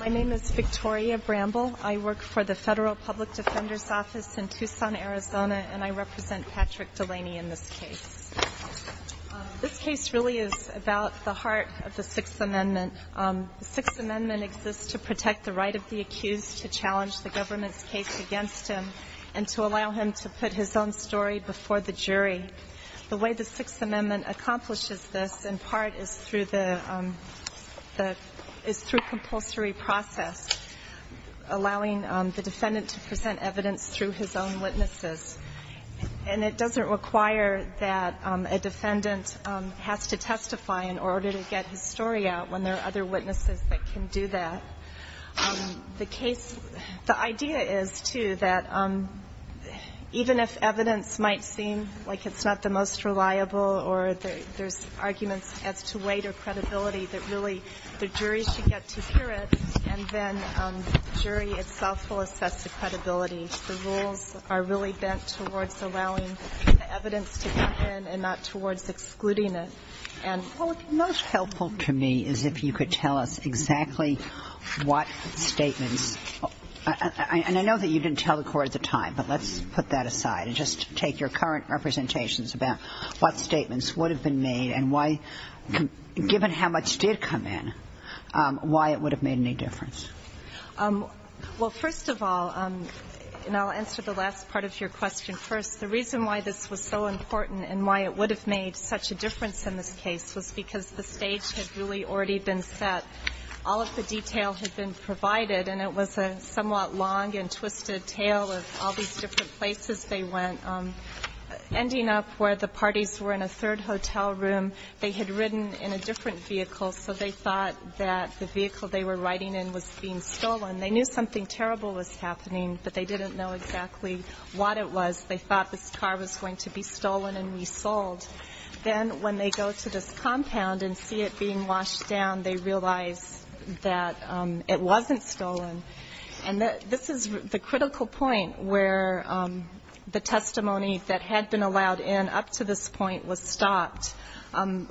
My name is Victoria Bramble. I work for the Federal Public Defender's Office in Tucson, Arizona, and I represent Patrick Delaney in this case. This case really is about the heart of the Sixth Amendment. The Sixth Amendment exists to protect the right of the accused to challenge the government's case against him and to allow him to put his own story before the jury. The way the Sixth Amendment accomplishes this, in part, is through compulsory process, allowing the defendant to present evidence through his own witnesses. And it doesn't require that a defendant has to testify in order to get his story out when there are other witnesses that can do that. The case – the idea is, too, that even if evidence might seem like it's not the most reliable or there's arguments as to weight or credibility, that really the jury should get to hear it, and then the jury itself will assess the credibility. The rules are really bent towards allowing the evidence to come in and not towards excluding it. Well, what's most helpful to me is if you could tell us exactly what statements – and I know that you didn't tell the court at the time, but let's put that aside and just take your current representations about what statements would have been made and why, given how much did come in, why it would have made any difference. Well, first of all – and I'll answer the last part of your question first. The reason why this was so important and why it would have made such a difference in this case was because the stage had really already been set. All of the detail had been provided, and it was a somewhat long and twisted tale of all these different places they went. Ending up where the parties were in a third hotel room, they had ridden in a different vehicle, so they thought that the vehicle they were riding in was being stolen. They knew something terrible was happening, but they didn't know exactly what it was. They thought this car was going to be stolen and resold. Then when they go to this compound and see it being washed down, they realize that it wasn't stolen. And this is the critical point where the testimony that had been allowed in up to this point was stopped. And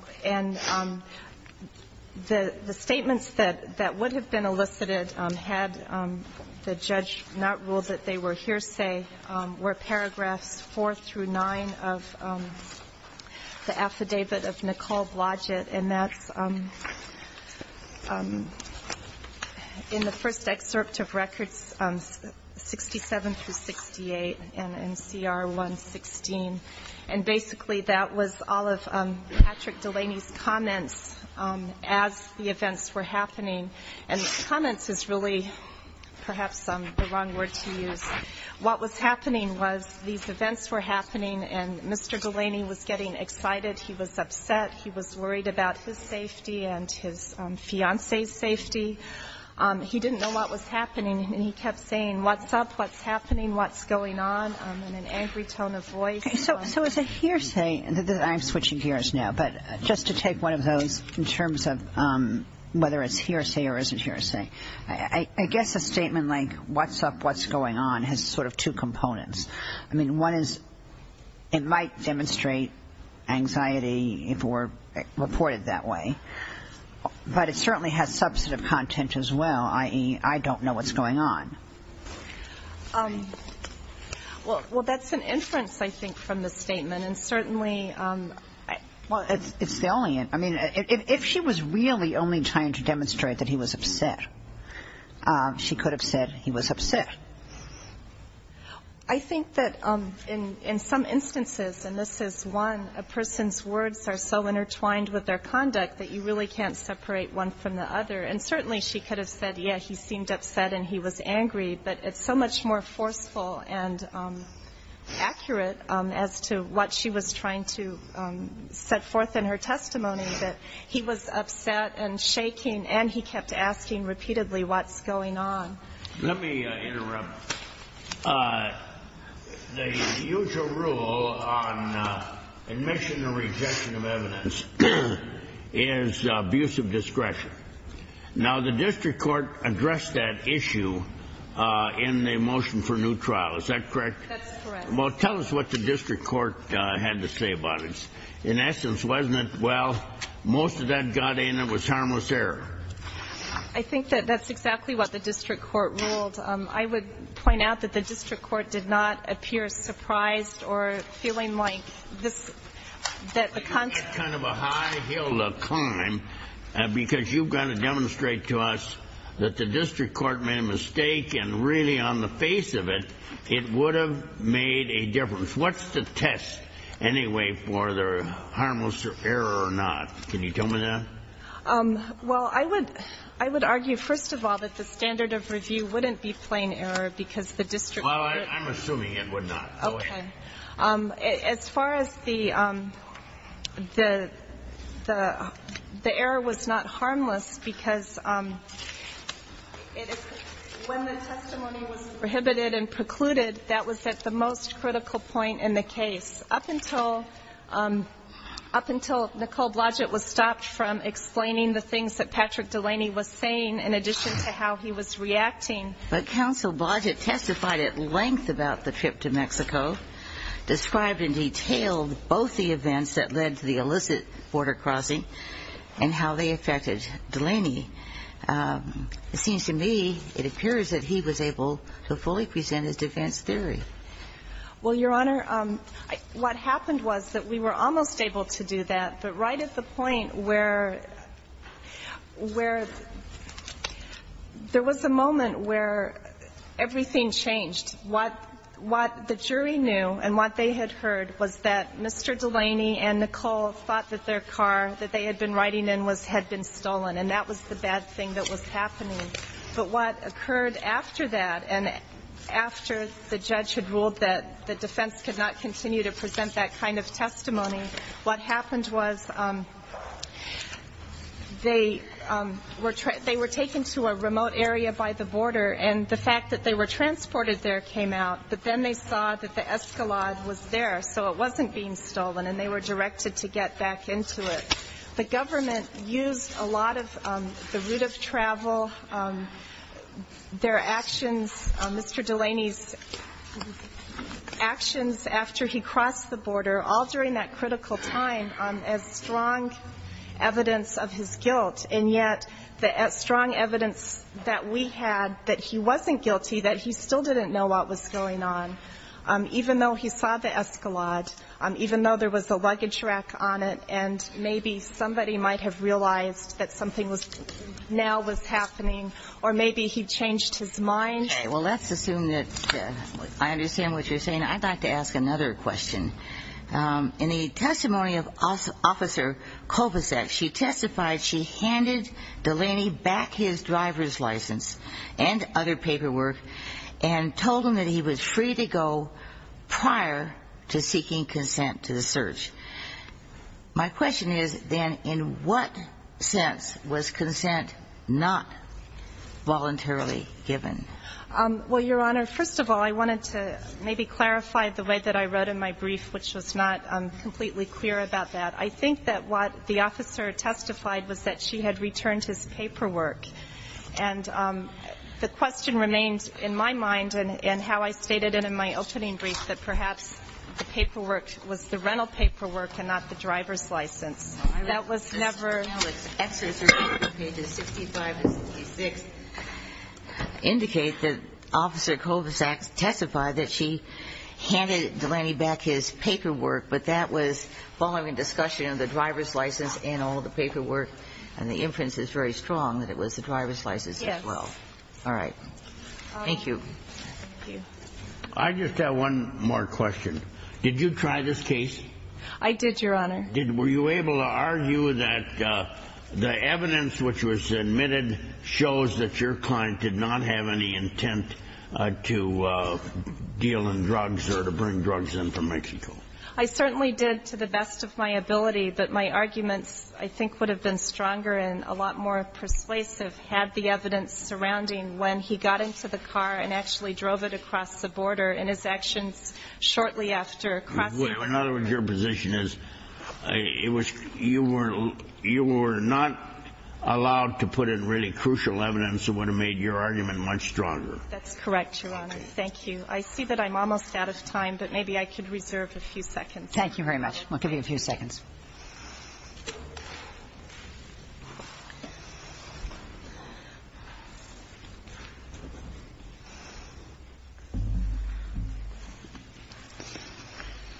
the statements that would have been elicited had the judge not ruled that they were hearsay were paragraphs 4 through 9 of the affidavit of Nicole Blodgett. And that's in the first excerpt of records 67 through 68 in NCR 116. And basically that was all of Patrick Delaney's comments as the events were happening. And comments is really perhaps the wrong word to use. What was happening was these events were happening, and Mr. Delaney was getting excited. He was upset. He was worried about his safety and his fiancée's safety. He didn't know what was happening, and he kept saying, what's up? What's happening? What's going on? In an angry tone of voice. I'm switching gears now. But just to take one of those in terms of whether it's hearsay or isn't hearsay. I guess a statement like what's up, what's going on has sort of two components. I mean, one is it might demonstrate anxiety if it were reported that way. But it certainly has substantive content as well, i.e., I don't know what's going on. Well, that's an inference, I think, from the statement. And certainly. Well, it's the only. I mean, if she was really only trying to demonstrate that he was upset, she could have said he was upset. I think that in some instances, and this is one, a person's words are so intertwined with their conduct that you really can't separate one from the other. And certainly she could have said, yeah, he seemed upset and he was angry. But it's so much more forceful and accurate as to what she was trying to set forth in her testimony, that he was upset and shaking and he kept asking repeatedly what's going on. Let me interrupt. The usual rule on admission or rejection of evidence is abuse of discretion. Now, the district court addressed that issue in the motion for new trial. Is that correct? That's correct. Well, tell us what the district court had to say about it. In essence, wasn't it, well, most of that got in. It was harmless error. I think that that's exactly what the district court ruled. I would point out that the district court did not appear surprised or feeling like this, kind of a high hill to climb because you've got to demonstrate to us that the district court made a mistake and really on the face of it, it would have made a difference. What's the test anyway for the harmless error or not? Can you tell me that? Well, I would argue, first of all, that the standard of review wouldn't be plain error because the district court Well, I'm assuming it would not. Okay. As far as the error was not harmless because when the testimony was prohibited and precluded, that was at the most critical point in the case. Up until Nicole Blodgett was stopped from explaining the things that Patrick Delaney was saying in addition to how he was reacting. But Counsel Blodgett testified at length about the trip to Mexico, described in detail both the events that led to the illicit border crossing and how they affected Delaney. It seems to me it appears that he was able to fully present his defense theory. Well, Your Honor, what happened was that we were almost able to do that, but right at the point where there was a moment where everything changed. What the jury knew and what they had heard was that Mr. Delaney and Nicole thought that their car that they had been riding in had been stolen. And that was the bad thing that was happening. But what occurred after that and after the judge had ruled that the defense could not continue to present that kind of testimony, what happened was they were taken to a remote area by the border, and the fact that they were transported there came out. But then they saw that the Escalade was there, so it wasn't being stolen, and they were directed to get back into it. The government used a lot of the route of travel. Their actions, Mr. Delaney's actions after he crossed the border, all during that critical time as strong evidence of his guilt. And yet the strong evidence that we had that he wasn't guilty, that he still didn't know what was going on, even though he saw the Escalade, even though there was a luggage rack on it, and maybe somebody might have realized that something now was happening, or maybe he changed his mind. Okay. Well, let's assume that I understand what you're saying. I'd like to ask another question. In the testimony of Officer Kovacek, she testified she handed Delaney back his driver's license and other paperwork and told him that he was free to go prior to seeking consent to the search. My question is, then, in what sense was consent not voluntarily given? Well, Your Honor, first of all, I wanted to maybe clarify the way that I wrote in my brief, which was not completely clear about that. I think that what the officer testified was that she had returned his paperwork. And the question remains in my mind and how I stated it in my opening brief that perhaps the paperwork was the rental paperwork and not the driver's license. That was never ---- Well, I read in the testimony of Alex, excerpts from pages 65 and 66 indicate that Officer Kovacek testified that she handed Delaney back his paperwork, but that was following discussion of the driver's license and all the paperwork, and the inference is very strong that it was the driver's license as well. Yes. All right. Thank you. Thank you. I just have one more question. Did you try this case? I did, Your Honor. Were you able to argue that the evidence which was admitted shows that your client did not have any intent to deal in drugs or to bring drugs in from Mexico? I certainly did to the best of my ability, but my arguments I think would have been stronger and a lot more persuasive had the evidence surrounding when he got into the car and actually drove it across the border and his actions shortly after crossing the border. In other words, your position is you were not allowed to put in really crucial evidence that would have made your argument much stronger. That's correct, Your Honor. Thank you. I see that I'm almost out of time, but maybe I could reserve a few seconds. Thank you very much. I'll give you a few seconds.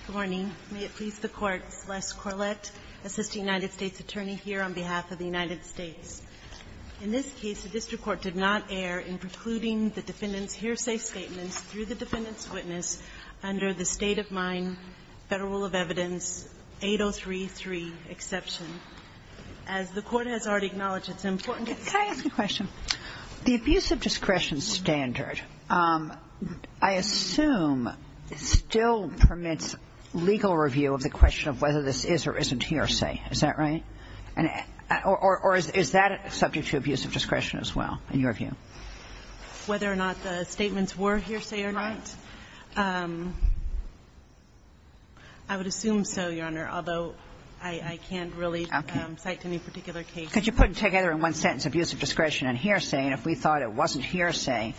Good morning. May it please the Court. Celeste Corlett, assistant United States attorney here on behalf of the United States. In this case, the district court did not err in precluding the defendant's hearsay statements through the defendant's witness under the state-of-mind Federal Rule of Evidence 8033 exception. As the Court has already acknowledged, it's important to say. Can I ask a question? The abuse of discretion standard, I assume, still permits legal review of the question of whether this is or isn't hearsay. Is that right? Or is that subject to abuse of discretion as well, in your view? Whether or not the statements were hearsay or not. Right. I would assume so, Your Honor, although I can't really cite any particular case. Okay. Because you put it together in one sentence, abuse of discretion and hearsay, and if we thought it wasn't hearsay,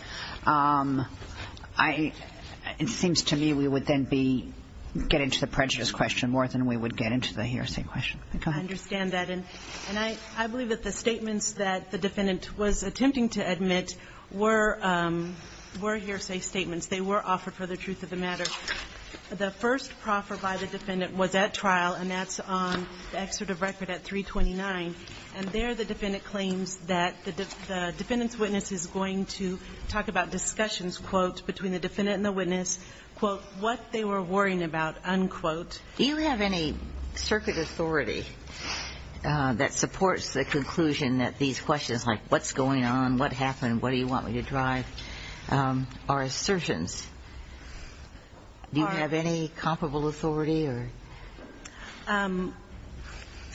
I – it seems to me we would then be getting to the prejudice question more than we would get into the hearsay question. Go ahead. I understand that. And I believe that the statements that the defendant was attempting to admit were hearsay statements. They were offered for the truth of the matter. The first proffer by the defendant was at trial, and that's on the excerpt of record at 329. And there the defendant claims that the defendant's witness is going to talk about discussions, quote, between the defendant and the witness, quote, what they were worrying about, unquote. Do you have any circuit authority that supports the conclusion that these questions like what's going on, what happened, what do you want me to drive, are assertions Do you have any comparable authority or?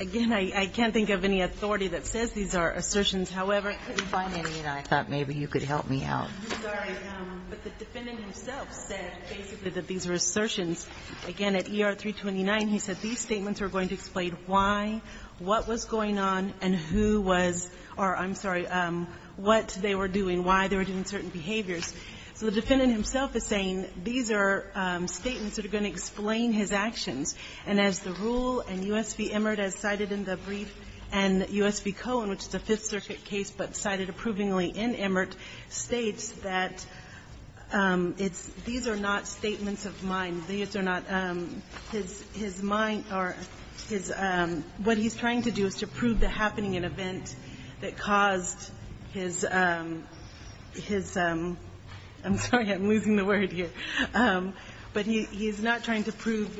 Again, I can't think of any authority that says these are assertions. However, I couldn't find any, and I thought maybe you could help me out. I'm sorry. But the defendant himself said basically that these are assertions. Again, at ER 329, he said these statements are going to explain why, what was going on, and who was – or, I'm sorry, what they were doing, why they were doing certain behaviors. So the defendant himself is saying these are statements that are going to explain his actions. And as the rule, and U.S. v. Emert as cited in the brief, and U.S. v. Cohen, which is a Fifth Circuit case but cited approvingly in Emert, states that it's – these are not statements of mind. These are not – his mind or his – what he's trying to do is to prove the happening and event that caused his – his – I'm sorry, I'm losing the word here. But he's not trying to prove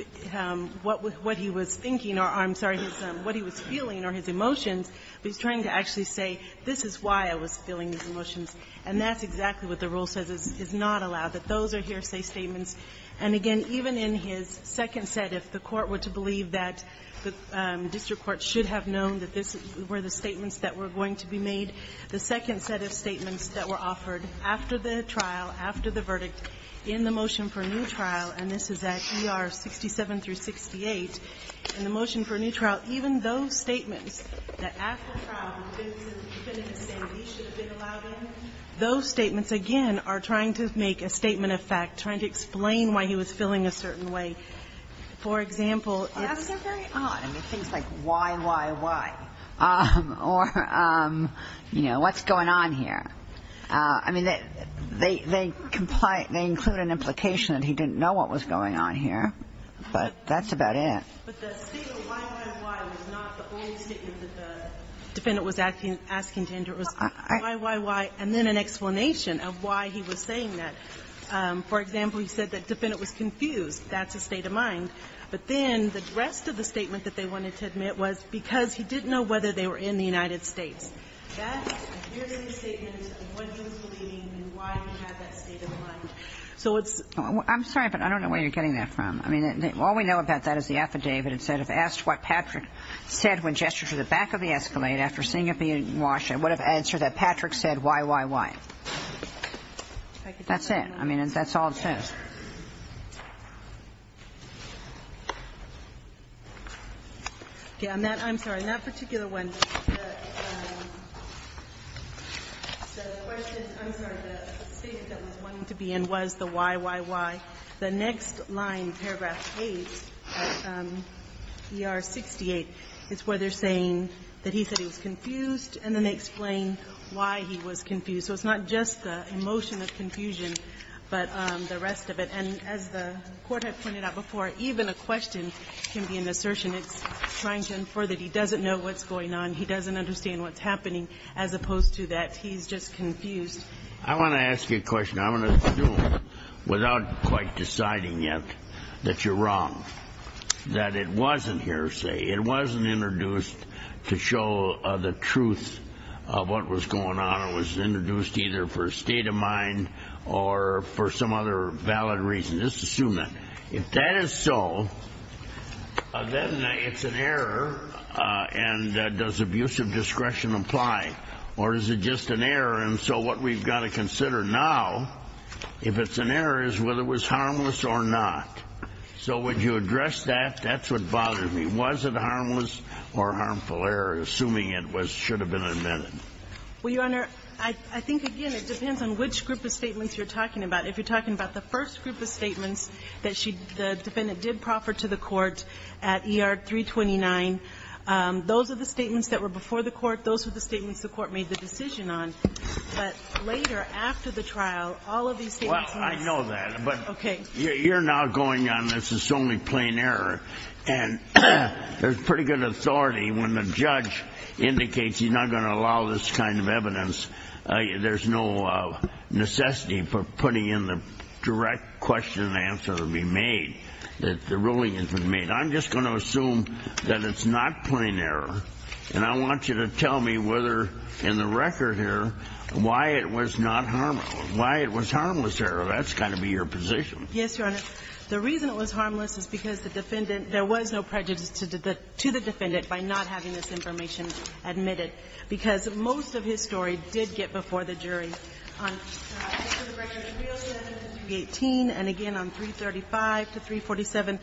what he was thinking or, I'm sorry, what he was feeling or his emotions, but he's trying to actually say, this is why I was feeling these emotions. And that's exactly what the rule says, is not allowed, that those are hearsay statements. And again, even in his second set, if the Court were to believe that the district court should have known that this were the statements that were going to be made, the second set of statements that were offered after the trial, after the verdict in the motion for a new trial, and this is at ER 67 through 68, in the motion for a new trial, even those statements that after trial the defendant is saying these should have been allowed in, those statements, again, are trying to make a statement of fact, trying to explain why he was feeling a certain way. For example, it's – That's not very odd. I mean, things like why, why, why. Or, you know, what's going on here. I mean, they comply – they include an implication that he didn't know what was going on here, but that's about it. But the statement why, why, why was not the only statement that the defendant was asking to enter. It was why, why, why, and then an explanation of why he was saying that. For example, he said that the defendant was confused. That's a state of mind. But then the rest of the statement that they wanted to admit was because he didn't know whether they were in the United States. That appears in the statement of what he was believing and why he had that state of mind. So it's – I'm sorry, but I don't know where you're getting that from. I mean, all we know about that is the affidavit. It said, If asked what Patrick said when gestured to the back of the Escalade after seeing it being washed, it would have answered that Patrick said why, why, why. That's it. I mean, that's all it says. Okay. I'm sorry. In that particular one, the question – I'm sorry. The statement that was wanted to be in was the why, why, why. The next line, paragraph 8, ER 68, is where they're saying that he said he was confused and then they explain why he was confused. So it's not just the emotion of confusion, but the rest of it. And as the Court had pointed out before, even a question can be an assertion. It's trying to infer that he doesn't know what's going on, he doesn't understand what's happening, as opposed to that he's just confused. I want to ask you a question. I'm going to assume, without quite deciding yet, that you're wrong, that it wasn't hearsay. It wasn't introduced to show the truth of what was going on. It was introduced either for a state of mind or for some other valid reason. Just assume that. If that is so, then it's an error, and does abusive discretion apply, or is it just an error? And so what we've got to consider now, if it's an error, is whether it was harmless or not. So would you address that? That's what bothers me. Was it harmless or harmful error, assuming it should have been amended? Well, Your Honor, I think, again, it depends on which group of statements you're talking about. If you're talking about the first group of statements that the defendant did proffer to the Court at ER 329, those are the statements that were before the Court, those were the statements the Court made the decision on. But later, after the trial, all of these statements must be changed. Well, I know that. Okay. But you're now going on this as only plain error, and there's pretty good authority when the judge indicates he's not going to allow this kind of evidence, there's no necessity for putting in the direct question and answer to be made, that the ruling has been made. I'm just going to assume that it's not plain error, and I want you to tell me whether in the record here why it was not harmless, why it was harmless error. That's got to be your position. Yes, Your Honor. The reason it was harmless is because the defendant – there was no prejudice to the defendant by not having this information admitted, because most of his story did get before the jury. In the record, 307 to 318, and again on 335 to 347,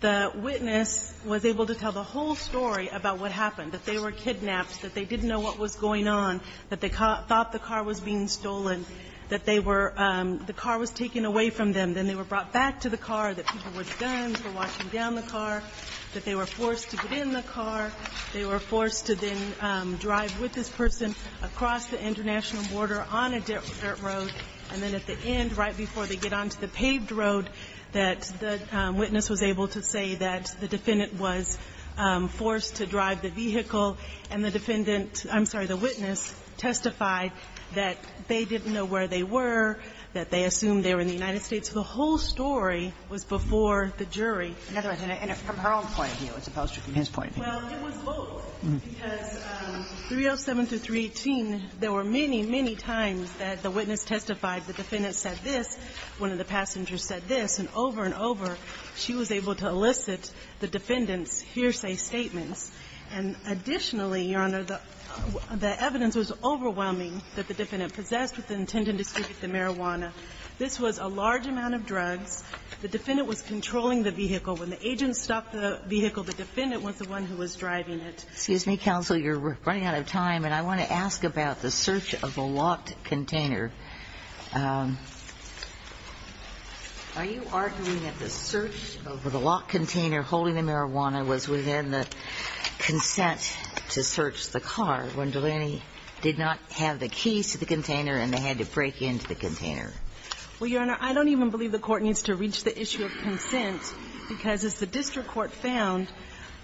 the witness was able to tell the whole story about what happened, that they were kidnapped, that they didn't know what was going on, that they thought the car was being stolen, that they were – the car was taken away from them, then they were brought back to the car, that people with guns were walking down the car, that they were forced to get in the car, they were forced to then drive with this person across the international border on a dirt road, and then at the end, right before they get onto the paved road, that the witness was able to say that the defendant was forced to drive the vehicle, and the defendant – I'm sorry, the witness testified that they didn't know where they were, that they assumed they were in the United States. So the whole story was before the jury. Kagan. And from her own point of view as opposed to from his point of view. Well, it was both, because 307 to 318, there were many, many times that the witness testified, the defendant said this, one of the passengers said this. And over and over, she was able to elicit the defendant's hearsay statements. And additionally, Your Honor, the evidence was overwhelming that the defendant had been possessed with the intent to distribute the marijuana. This was a large amount of drugs. The defendant was controlling the vehicle. When the agent stopped the vehicle, the defendant was the one who was driving it. Excuse me, counsel. You're running out of time. And I want to ask about the search of a locked container. Are you arguing that the search of the locked container holding the marijuana was within the consent to search the car when Delaney did not have the keys to the container and they had to break into the container? Well, Your Honor, I don't even believe the Court needs to reach the issue of consent, because as the district court found,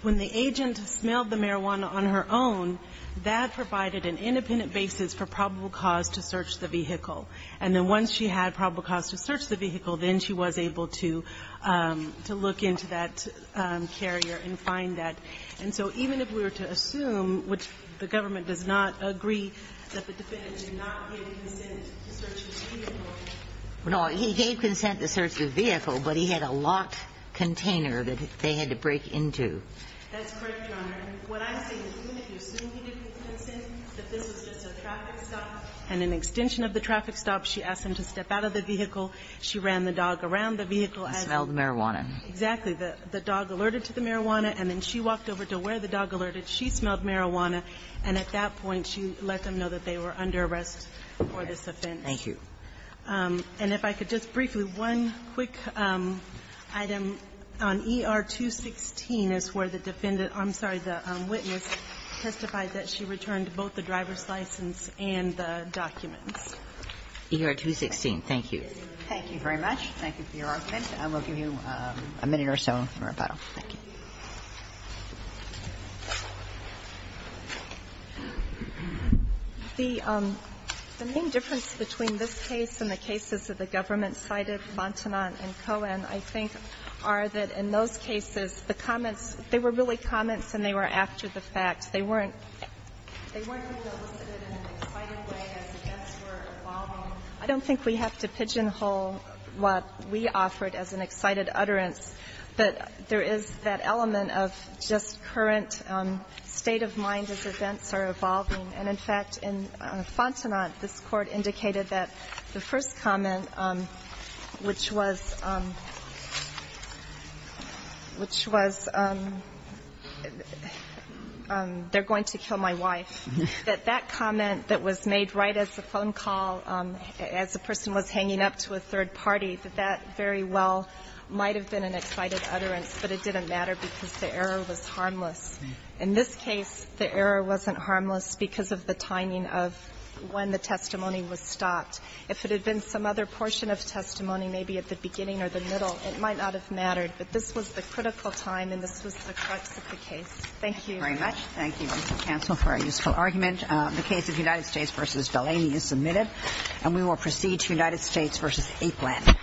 when the agent smelled the marijuana on her own, that provided an independent basis for probable cause to search the vehicle. And then once she had probable cause to search the vehicle, then she was able to look into that carrier and find that. And so even if we were to assume, which the government does not agree, that the defendant did not give consent to search his vehicle. No, he gave consent to search the vehicle, but he had a locked container that they had to break into. That's correct, Your Honor. What I'm saying is even if you assume he didn't consent, that this was just a traffic stop, and an extension of the traffic stop, she asked him to step out of the vehicle, she ran the dog around the vehicle as he smelled the marijuana. Exactly. The dog alerted to the marijuana, and then she walked over to where the dog alerted. She smelled marijuana. And at that point, she let them know that they were under arrest for this offense. Thank you. And if I could just briefly, one quick item. On ER-216 is where the defendant – I'm sorry, the witness testified that she returned both the driver's license and the documents. ER-216. Thank you. Thank you very much. Thank you for your argument. I will give you a minute or so for rebuttal. Thank you. The main difference between this case and the cases that the government cited, Montanant and Cohen, I think, are that in those cases, the comments, they were really comments and they were after the fact. They weren't – they weren't solicited in an exciting way as the deaths were evolving. I don't think we have to pigeonhole what we offered as an excited utterance, but there is that element of just current state of mind as events are evolving. And, in fact, in Fontenot, this Court indicated that the first comment, which was – which was, they're going to kill my wife, that that comment that was made right as the phone call, as the person was hanging up to a third party, that that very well might have been an excited utterance, but it didn't matter because the error was harmless. In this case, the error wasn't harmless because of the timing of when the testimony was stopped. If it had been some other portion of testimony, maybe at the beginning or the middle, it might not have mattered. But this was the critical time and this was the crux of the case. Thank you. Thank you very much. Thank you, Mr. Counsel, for a useful argument. The case of United States v. Delaney is submitted. And we will proceed to United States v. Aplan.